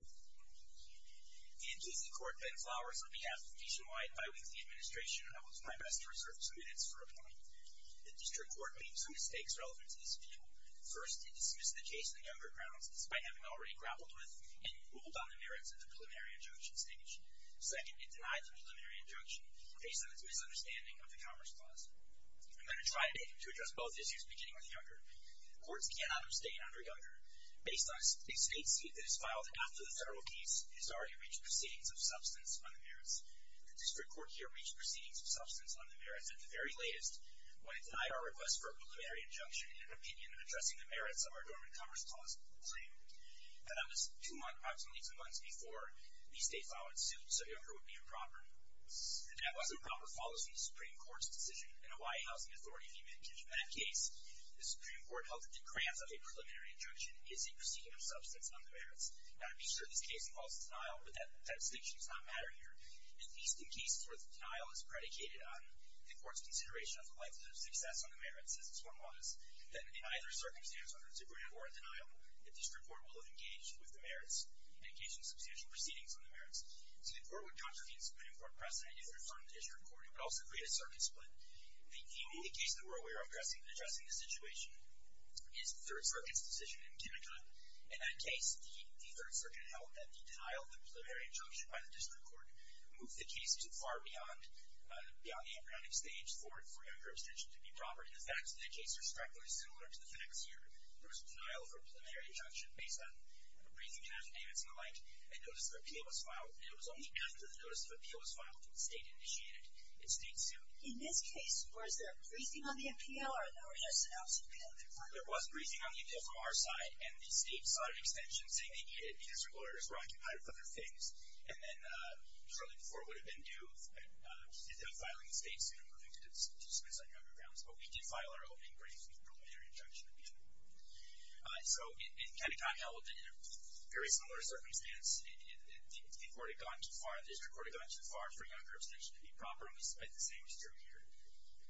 The NTC Court, Ben Flowers, on behalf of Visionwide Biweekly Administration, and I will do my best to reserve some minutes for a point. The district court made some mistakes relevant to this view. First, it dismissed the case in the younger grounds, despite having already grappled with and ruled on the merits of the preliminary injunction stage. Second, it denied the preliminary injunction, based on its misunderstanding of the Commerce Clause. I'm going to try today to address both issues, beginning with younger. Courts cannot abstain under younger. Based on a state suit that is filed after the federal case, it has already reached proceedings of substance on the merits. The district court here reached proceedings of substance on the merits at the very latest when it denied our request for a preliminary injunction in an opinion addressing the merits of our dormant Commerce Clause claim that on the two months, approximately two months before, the state filed its suit so younger would be improper. That that wasn't proper follows from the Supreme Court's decision in a Y Housing Authority v. Minkins. In that case, the Supreme Court held that the grant of a preliminary injunction is a proceeding of substance on the merits. Now, to be sure, this case involves denial, but that distinction does not matter here. At least in cases where the denial is predicated on the court's consideration of the likelihood of success on the merits, as this one was, then in either circumstance, whether it's a grant or a denial, the district court will have engaged with the merits and engaged in substantial proceedings on the merits. So the court would contradict the Supreme Court precedent if it returned to district court. It would also create a circuit split. The only case that we're aware of addressing the situation is the Third Circuit's decision in Connecticut. In that case, the Third Circuit held that the denial of the preliminary injunction by the district court moved the case too far beyond the impounding stage for younger abstention to be proper. And the facts of that case are strikingly similar to the facts here. There was a denial of a preliminary injunction based on a briefing and affidavits and the like. A notice of appeal was filed. And it was only after the notice of appeal was filed that the state initiated its state suit. In this case, was there a briefing on the appeal or a notice of absence of appeal that was filed? There was a briefing on the appeal from our side. And the state sought an extension, saying the district lawyers were occupied with other things. And then shortly before, it would have been due. And we ended up filing the state suit and moving to dismiss on younger grounds. But we did file our opening brief with preliminary injunction at the end of it. So in Connecticut, held in a very similar circumstance, the court had gone too far. The district court had gone too far for younger abstention to be proper, and we spent the same term here.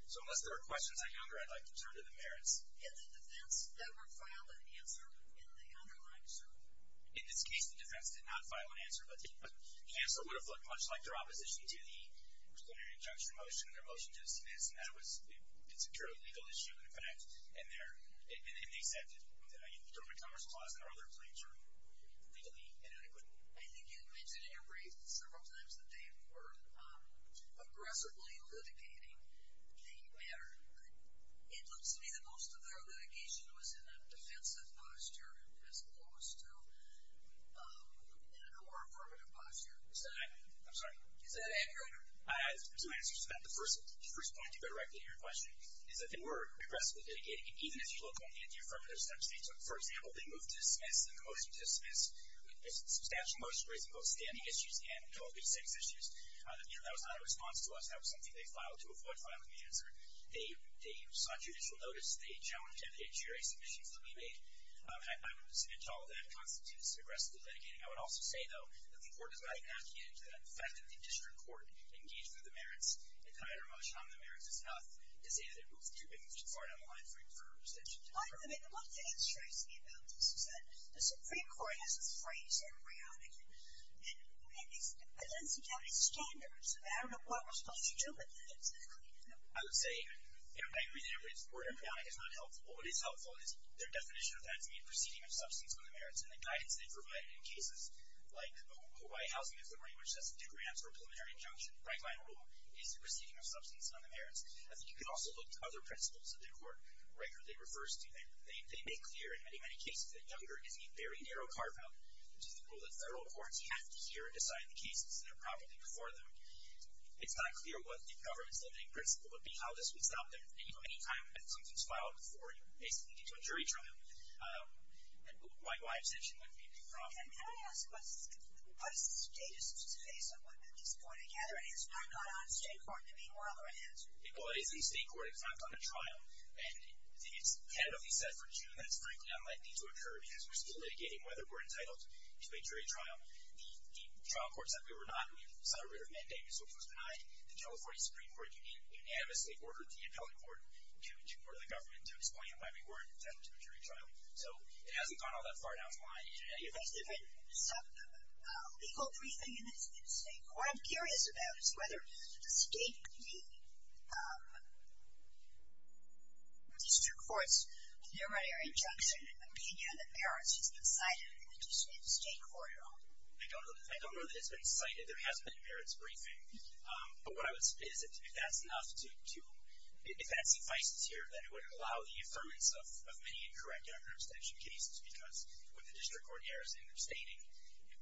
So unless there are questions on younger, I'd like to turn to the merits. Had the defense ever filed an answer in the underlying suit? In this case, the defense did not file an answer. But the answer would have looked much like their opposition to the preliminary injunction motion, and their motion to dismiss. And that was a purely legal issue, in fact. And they said that the government commercial laws and our other claims are legally inadequate. I think you mentioned in your brief several times that they were aggressively litigating the matter. It looks to me that most of their litigation was in a defensive posture, as opposed to in a more affirmative posture. Is that accurate? I'm sorry. Is that accurate? Two answers to that. The first point to go directly to your question is that they were aggressively litigating it, even if you look on the anti-affirmative section. So for example, they moved to dismiss, and the motion to dismiss was a substantial motion raising both standing issues and totally sex issues. That was not a response to us. That was something they filed to avoid filing the answer. They sought judicial notice. They challenged the HRA submissions that we made. I wouldn't dissent at all. That constitutes aggressively litigating. I would also say, though, that the court does not inoculate into the fact that the district court engaged with the merits and tied our motion on the merits is enough to say that they've moved too far down the line for an extension. Fine with me. But one thing that strikes me about this is that the Supreme Court has a phrase, embryonic, and it's against the county's standards. And I don't know what we're supposed to do with that. Exactly. I would say, I agree that the word embryonic is not helpful. But what is helpful is their definition of that as being a proceeding of substance on the merits. And the guidance they provided in cases like Hawaii Housing Affiliate, which has two grants for a preliminary injunction, by my rule, is a proceeding of substance on the merits. I think you can also look to other principles that the court regularly refers to. They make clear, in many, many cases, that younger is a very narrow carve out, which is the rule that federal courts have to hear and decide the cases that are properly before them. It's not clear what the government's limiting principle would be, how this would stop them any time that something's filed before you, basically, into a jury trial. And my obsession would be the problem. Can I ask, what is the status of this case and what is going together? And is Hawaii not on state court? I mean, we're all going to answer. Well, it is a state court. It's not on a trial. And it's tentatively set for June, and it's frankly unlikely to occur, because we're still litigating whether we're entitled to a jury trial. The trial courts that we were not, we celebrated our mandate, which was denied. The California Supreme Court unanimously ordered the appellate court to order the government to explain why we weren't entitled to a jury trial. So it hasn't gone all that far down the line. And if it's different, it's a legal briefing in state court. What I'm curious about is whether the state, the district courts, your injunction and opinion on the merits has been cited in the state court at all. I don't know that it's been cited. There hasn't been merits briefing. But what I would say is that if that's enough to, if that suffices here, then it would allow the affirmance of many incorrect under extension cases, because when the district court hears and they're stating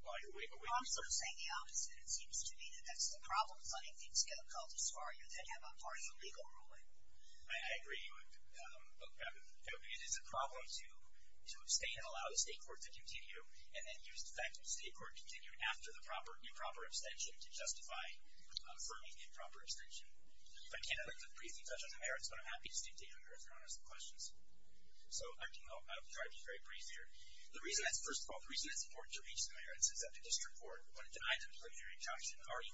why Hawaii wasn't entitled to a jury trial, that's the problem. It's letting things get a cult as far as they have a partial legal ruling. I agree. It is a problem to abstain and allow the state court to continue, and then use the fact that the state court continued after the improper abstention to justify affirming the improper abstention. I can't at least briefly touch on the merits, but I'm happy to stick to your merits and honest questions. So I'll try to be very brief here. First of all, the reason it's important to reach the merits is that the district court, when it denies a preliminary injunction, already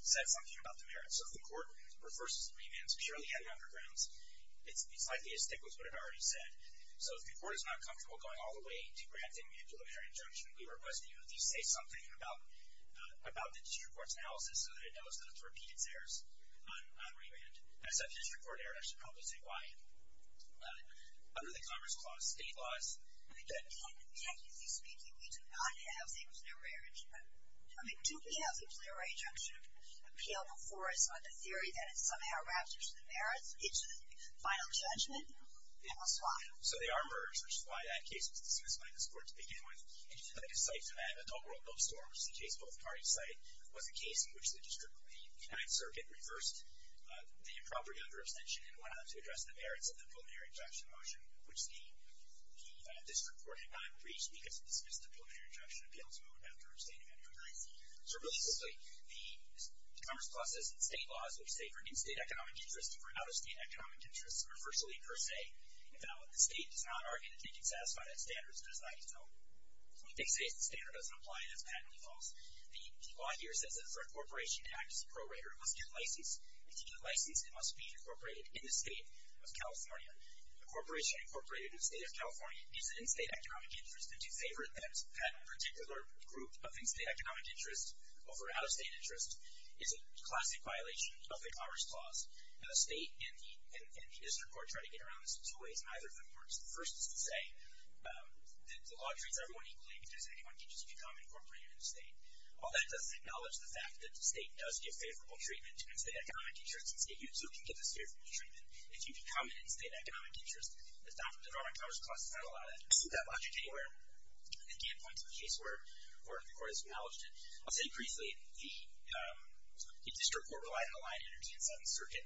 said something about the merits. So if the court refers to remands purely as undergrounds, it's likely to stick with what it already said. So if the court is not comfortable going all the way to granting a preliminary injunction, we request that you at least say something about the district court's analysis so that it knows not to repeat its errors on remand. And it's a district court error. I should probably say why. Under the Commerce Clause, state laws, technically speaking, we do not have the preliminary injunction. I mean, do we have the preliminary injunction appeal before us on the theory that it somehow wraps into the merits, into the final judgment? I don't know why. So they are merits, which is why that case was dismissed by this court to begin with. And just to make a cite to that, Adult World Milk Store, which is the case both parties cite, was a case in which the district, the United Circuit, reversed the improper younger abstention and went on to address the merits of the preliminary injunction in motion, which the district court had not reached because it dismissed the preliminary injunction appeal to vote after abstaining on hearing. So really simply, the Commerce Clause says that state laws that we say for in-state economic interests and for out-of-state economic interests are virtually per se invalid. The state does not argue that they can satisfy that standard. It's decided so. When they say that the standard doesn't apply, that's patently false. The law here says that for a corporation to act as a prorater, it must get licensed. And to get licensed, it must be incorporated in the state of California. A corporation incorporated in the state of California needs an in-state economic interest. And to favor that particular group of in-state economic interest over out-of-state interest is a classic violation of the Commerce Clause. And the state and the district court try to get around this in two ways. Neither of them works. The first is to say that the law treats everyone equally because anyone can just become incorporated in the state. All that does is acknowledge the fact that the state does give favorable treatment to in-state economic interest. And so it can give the state a favorable treatment if you become an in-state economic interest. The Department of Commerce Clause does not allow that logic anywhere. Again, points to a case where the court has acknowledged it. I'll say briefly, the district court relied on the line energy in Seventh Circuit.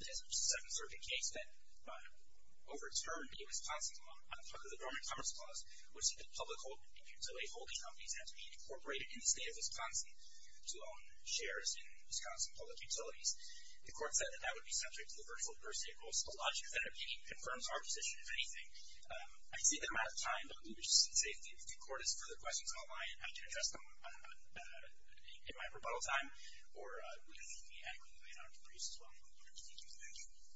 It is a Seventh Circuit case that overturned the Wisconsin law on the part of the Department of Commerce Clause which said that public holding companies have to be incorporated in the state of Wisconsin to own shares in Wisconsin public utilities. The court said that that would be subject to the virtual first state rules. The logic that I'm giving confirms our position, if anything. I see that I'm out of time, but let me just say if the court has further questions on the line, I can address them in my rebuttal time or with anyone who may not be briefed as well. Thank you for that.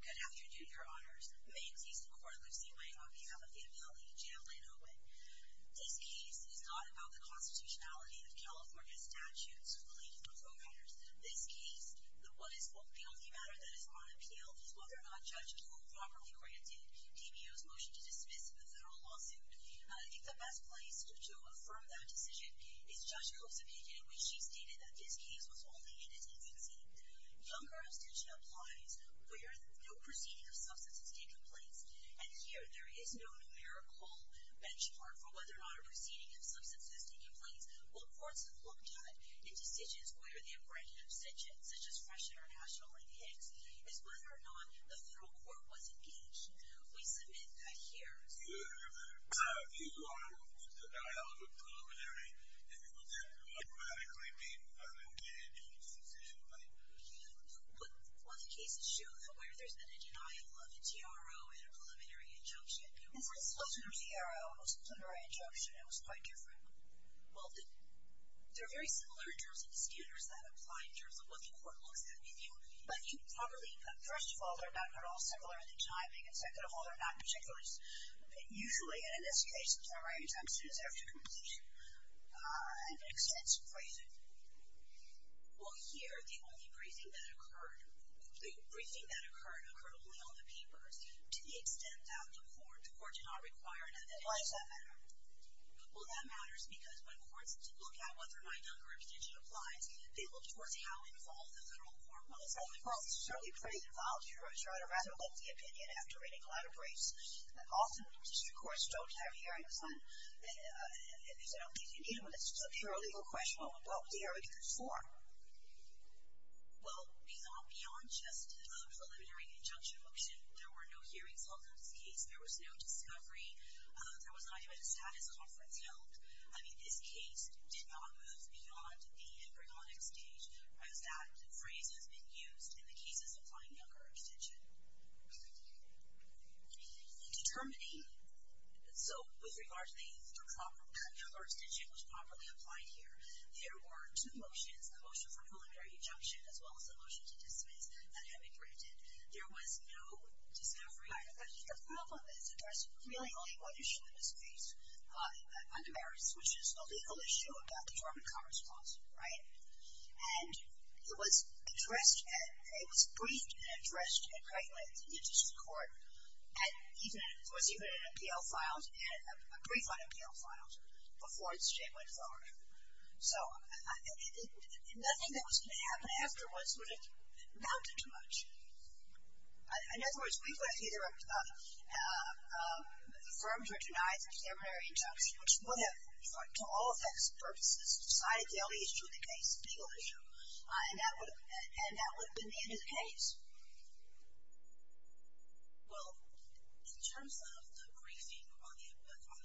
Good afternoon, your honors. May it please the court, Lucy Wang, on behalf of the appellee, Jalynn Owen. This case is not about the constitutionality of California's statutes relating to providers. This case, the only matter that is on appeal is whether or not judges were properly granted DBO's motion to dismiss the federal lawsuit. I think the best place to affirm that decision is Judge Koch's opinion in which she stated that this case was only in its infancy. Younger abstention applies where no proceeding of substance has taken place. And here, there is no numerical benchmark for whether or not a proceeding of substance has taken place. What courts have looked at in decisions where they have granted abstention, such as fresh international linkage, is whether or not the federal court was engaged. We submit that here's... Yes. You are out of the preliminary. If it was there, it would automatically be validated in the decision. But... Well, the cases show that where there's been a denial of a TRO and a preliminary injunction, it was... This wasn't a TRO. It was a preliminary injunction. It was quite different. Well, they're very similar in terms of the standards that apply in terms of what the court looks at with you. But you probably, first of all, they're not at all similar in the timing, and second of all, they're not particulars. Usually, and in this case, it's all right as soon as there's a conclusion. And it extends to brazing. Well, here, the only brazing that occurred, the brazing that occurred, occurred only on the papers to the extent that the court did not require an evidence. Why does that matter? Well, that matters because when courts look at whether or not denial of a condition applies, they look towards how involved the federal court was. Well, the federal court is certainly pretty involved. You're out of rather lengthy opinion after reading a lot of briefs. Often, when a particular court strokes that hearing, it's not an opinion, it's just a paralegal question. Well, what was the argument for? Well, beyond just a preliminary injunction motion, there were no hearings held on this case. There was no discovery. There was not even a status conference held. I mean, this case did not move beyond the embryonic stage as that phrase has been used in the cases applying Younger Extension. Determining... So, with regard to the Younger Extension, which properly applied here, there were two motions, the motion for preliminary injunction as well as the motion to dismiss, that had been granted. There was no discovery. The problem is that there's really only one issue in this case, under Maris, which is a legal issue about the German congress clause, right? And it was briefed and addressed directly to the district court. It was even in MPL files, a brief on MPL files, before it straight went forward. So, nothing that was going to happen afterwards would have amounted to much. In other words, we could have either affirmed or denied the preliminary injunction, which would have, to all effects and purposes, decided the only issue in the case, the legal issue, and that would have been the end of the case. Well, in terms of the briefing on the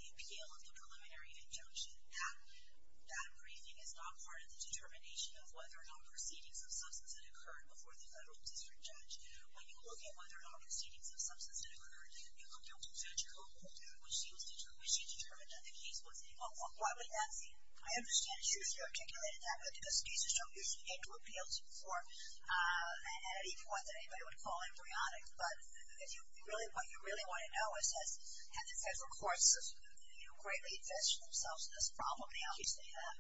appeal of the preliminary injunction, that briefing is not part of the determination of whether or not proceedings of substance had occurred before the federal district judge. When you look at whether or not proceedings of substance had occurred, you look at what judge wrote, which she determined that the case was in. Why would that be? I understand she articulated that, but in this case, you don't usually get to appeal to the court at any point that anybody would call embryonic. But what you really want to know is, have the federal courts greatly invested themselves in this problem? They obviously have.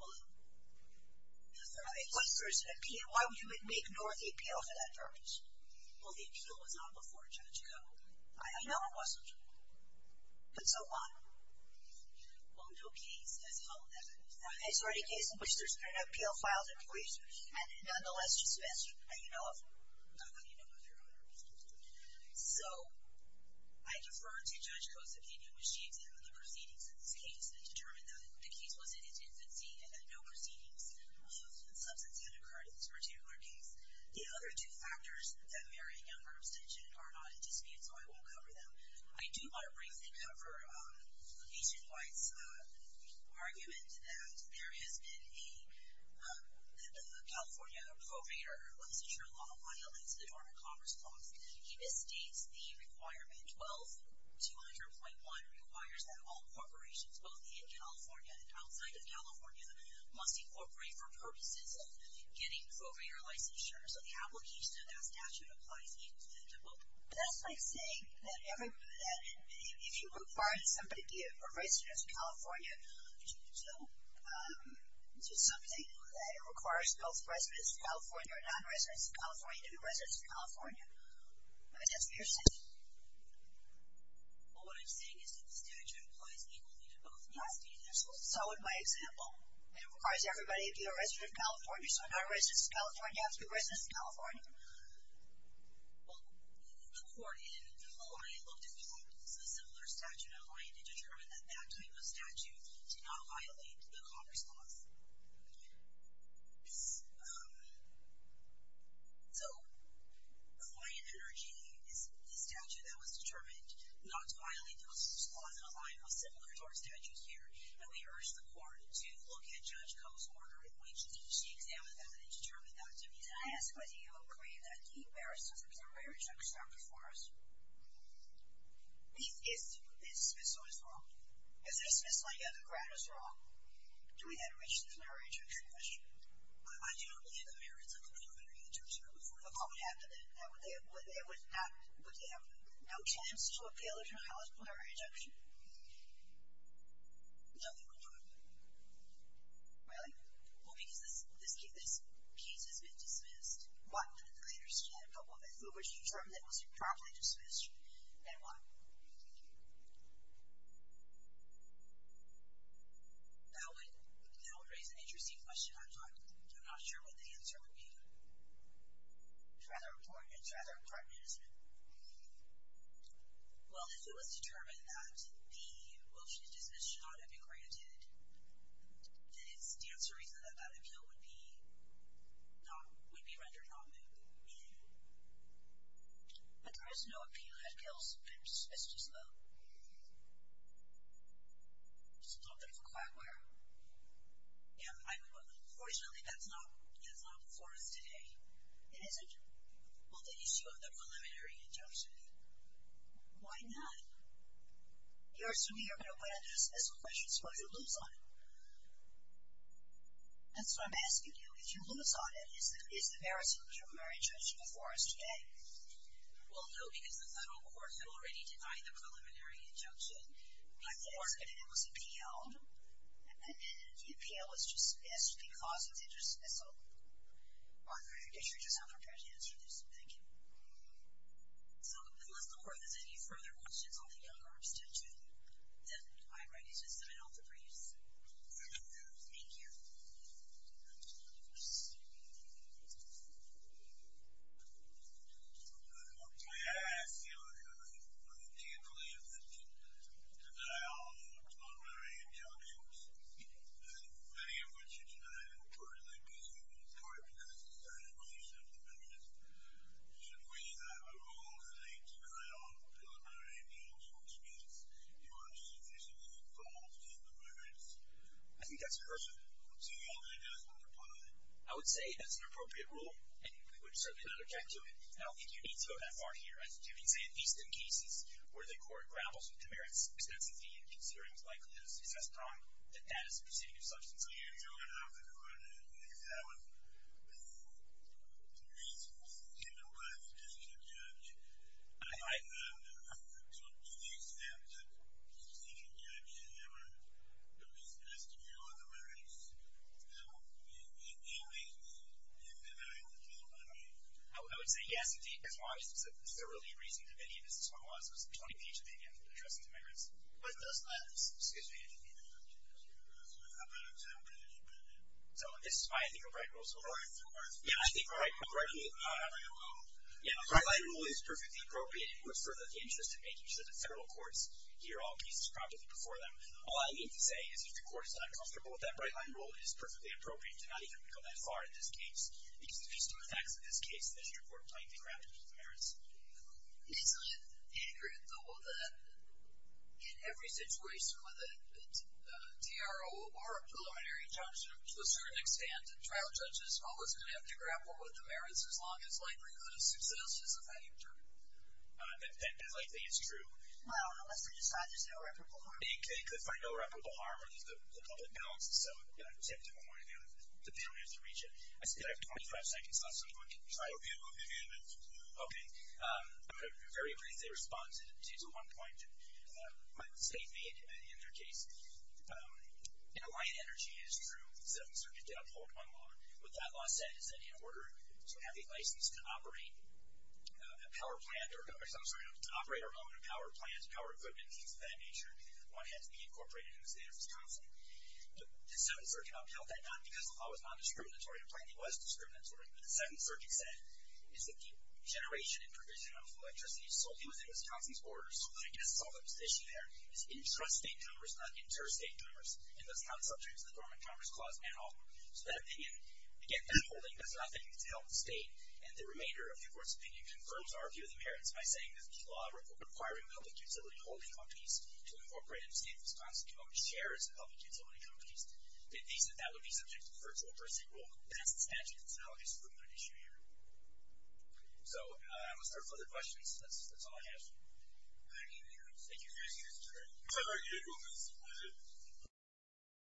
Well, if there is an appeal, why would you ignore the appeal for that purpose? Well, the appeal was not before Judge Coe. I know it wasn't. But so what? Well, no case has held that. There's already a case in which there's been an appeal filed in place, and nonetheless, just missed. And you know it. So, I defer to Judge Coe's opinion, which she examined the proceedings in this case and determined that the case was in its infancy and that no proceedings of substance had occurred in this particular case. The other two factors, that marriage and younger abstention, are not in dispute, so I won't cover them. I do want to briefly cover Agent White's argument that there has been a California probator licensure law violates the Dormant Commerce Clause. He misstates the requirement. 12-200.1 requires that all corporations, both in California and outside of California, must incorporate for purposes of getting probator licensure. So the application of that statute applies equally to both. But that's like saying that if you require that somebody be a resident of California, to do something that requires both residents of California or non-residents of California to be residents of California. That's what you're saying. Well, what I'm saying is that the statute applies equally to both. Yes. So, in my example, it requires everybody to be a resident of California, so a non-resident of California has to be a resident of California. Well, the court in Hawaii looked at courts with a similar statute in mind and determined that that type of statute did not violate the Commerce Clause. So, Hawaiian Energy is the statute that was determined not to violate the Commerce Clause in a line most similar to our statute here. And we urged the court to look at Judge Koh's order in which she examined that and determined that there is a highest quality of a claim that the merits of the preliminary injunction are before us. If the dismissal is wrong. If the dismissal, yeah, the grant is wrong, do we then reach the preliminary injunction question? I do not believe the merits of the preliminary injunction are before us. Well, what would happen then? Would they have no chance to appeal to the highest preliminary injunction? No, they would not. Really? Well, because this case has been dismissed. What? The plaintiffs did. Well, if it was determined that it was improperly dismissed, then what? That would raise an interesting question. I'm not sure what the answer would be. It's rather important. It's rather pertinent, isn't it? Well, if it was determined that the motion to dismiss should not have been granted, then it's the answer reason that that appeal would be rendered non-moot. But there is no appeal that fails to dismiss as well. It's a little bit of a quagmire. Unfortunately, that's not before us today. It isn't? Well, the issue of the preliminary injunction. Why not? You're assuming you're going to win a dismissal question, so why'd you lose on it? That's what I'm asking you. If you lose on it, is the merits of the preliminary injunction before us today? Well, no, because the federal courts have already denied the preliminary injunction. I'm asking if it was appealed. And if the appeal was dismissed because it's interdismissal. Martha, if you're just not prepared to answer this, thank you. So, unless the court has any further questions on the Younger abstention, then I'm ready to submit all the briefs. Thank you. Okay, I ask you, do you believe that the denial of the preliminary injunctions, many of which you denied in the preliminary dismissal, is correct because it's a violation of the merits? Should we have a rule relating to denial of the preliminary injunctions, which means you are insufficiently involved in the merits? I think that's a good question. So you're saying that it doesn't apply? I would say that's an appropriate rule, and we would certainly not object to it. I don't think you need to go that far here. I think you can say at least in cases where the court grapples with the merits, extensively, and considering the likelihood of a successful trial, that that is a proceeding of substance. So you're going to have the court examine the reasons in the words of the decision judge, to the extent that the decision judge has ever expressed a view on the merits. Now, in any case, do you deny the preliminary injunctions? I would say yes, indeed, because one of the specific reasons of any of the dismissal laws was the 20 page opinion addressing the merits. What does that suggest? I'm not exactly sure about that. So this is why I think a bright rule is appropriate. A bright rule? Yeah, I think a bright rule is perfectly appropriate. It would further the interest in making sure that federal courts hear all cases properly before them. All I need to say is if your court is not comfortable with that bright line rule, it is perfectly appropriate to not even go that far in this case, because there's too many facts in this case, and your court might grapple with the merits. Isn't it ignorant, though, that in every situation with a DRO or a preliminary injunction, to a certain extent, the trial judge is always going to have to grapple with the merits as long as likelihood of success is a factor? I think it's true. Well, unless they decide there's no reputable harm. They could find no reputable harm, or there's the public balance. So, you know, I've checked it one way or the other, but they don't have to reach it. I still have 25 seconds left, so anyone can try. Okay. I'm going to very briefly respond to one point my state made in their case. You know, light energy is true. The Seventh Circuit did uphold one law. What that law said is that in order to have a license to operate a power plant or, I'm sorry, to operate our own power plant, power equipment, things of that nature, one had to be incorporated in the state of Wisconsin. The Seventh Circuit upheld that not because the law was non-discriminatory. In fact, it was discriminatory. But the Seventh Circuit said it's the generation and provision of electricity solely within Wisconsin's borders. I guess it's all that was at issue there. It's intrastate tumors, not interstate tumors, and that's not subject to the Dormant Commerce Clause at all. So that opinion, again, upholding, that's not thinking to help the state. And the remainder of the Court's opinion confirms our view of the merits by saying that the law required public utility holding companies to incorporate in the state of Wisconsin to own shares of public utility companies. They said that would be subject to the Virtual Pursuit Rule. That's the statute. So I don't think it's a permanent issue here. So I will start with other questions. That's all I have. Thank you. Thank you. Thank you. Thank you. Thank you. Thank you. Thank you.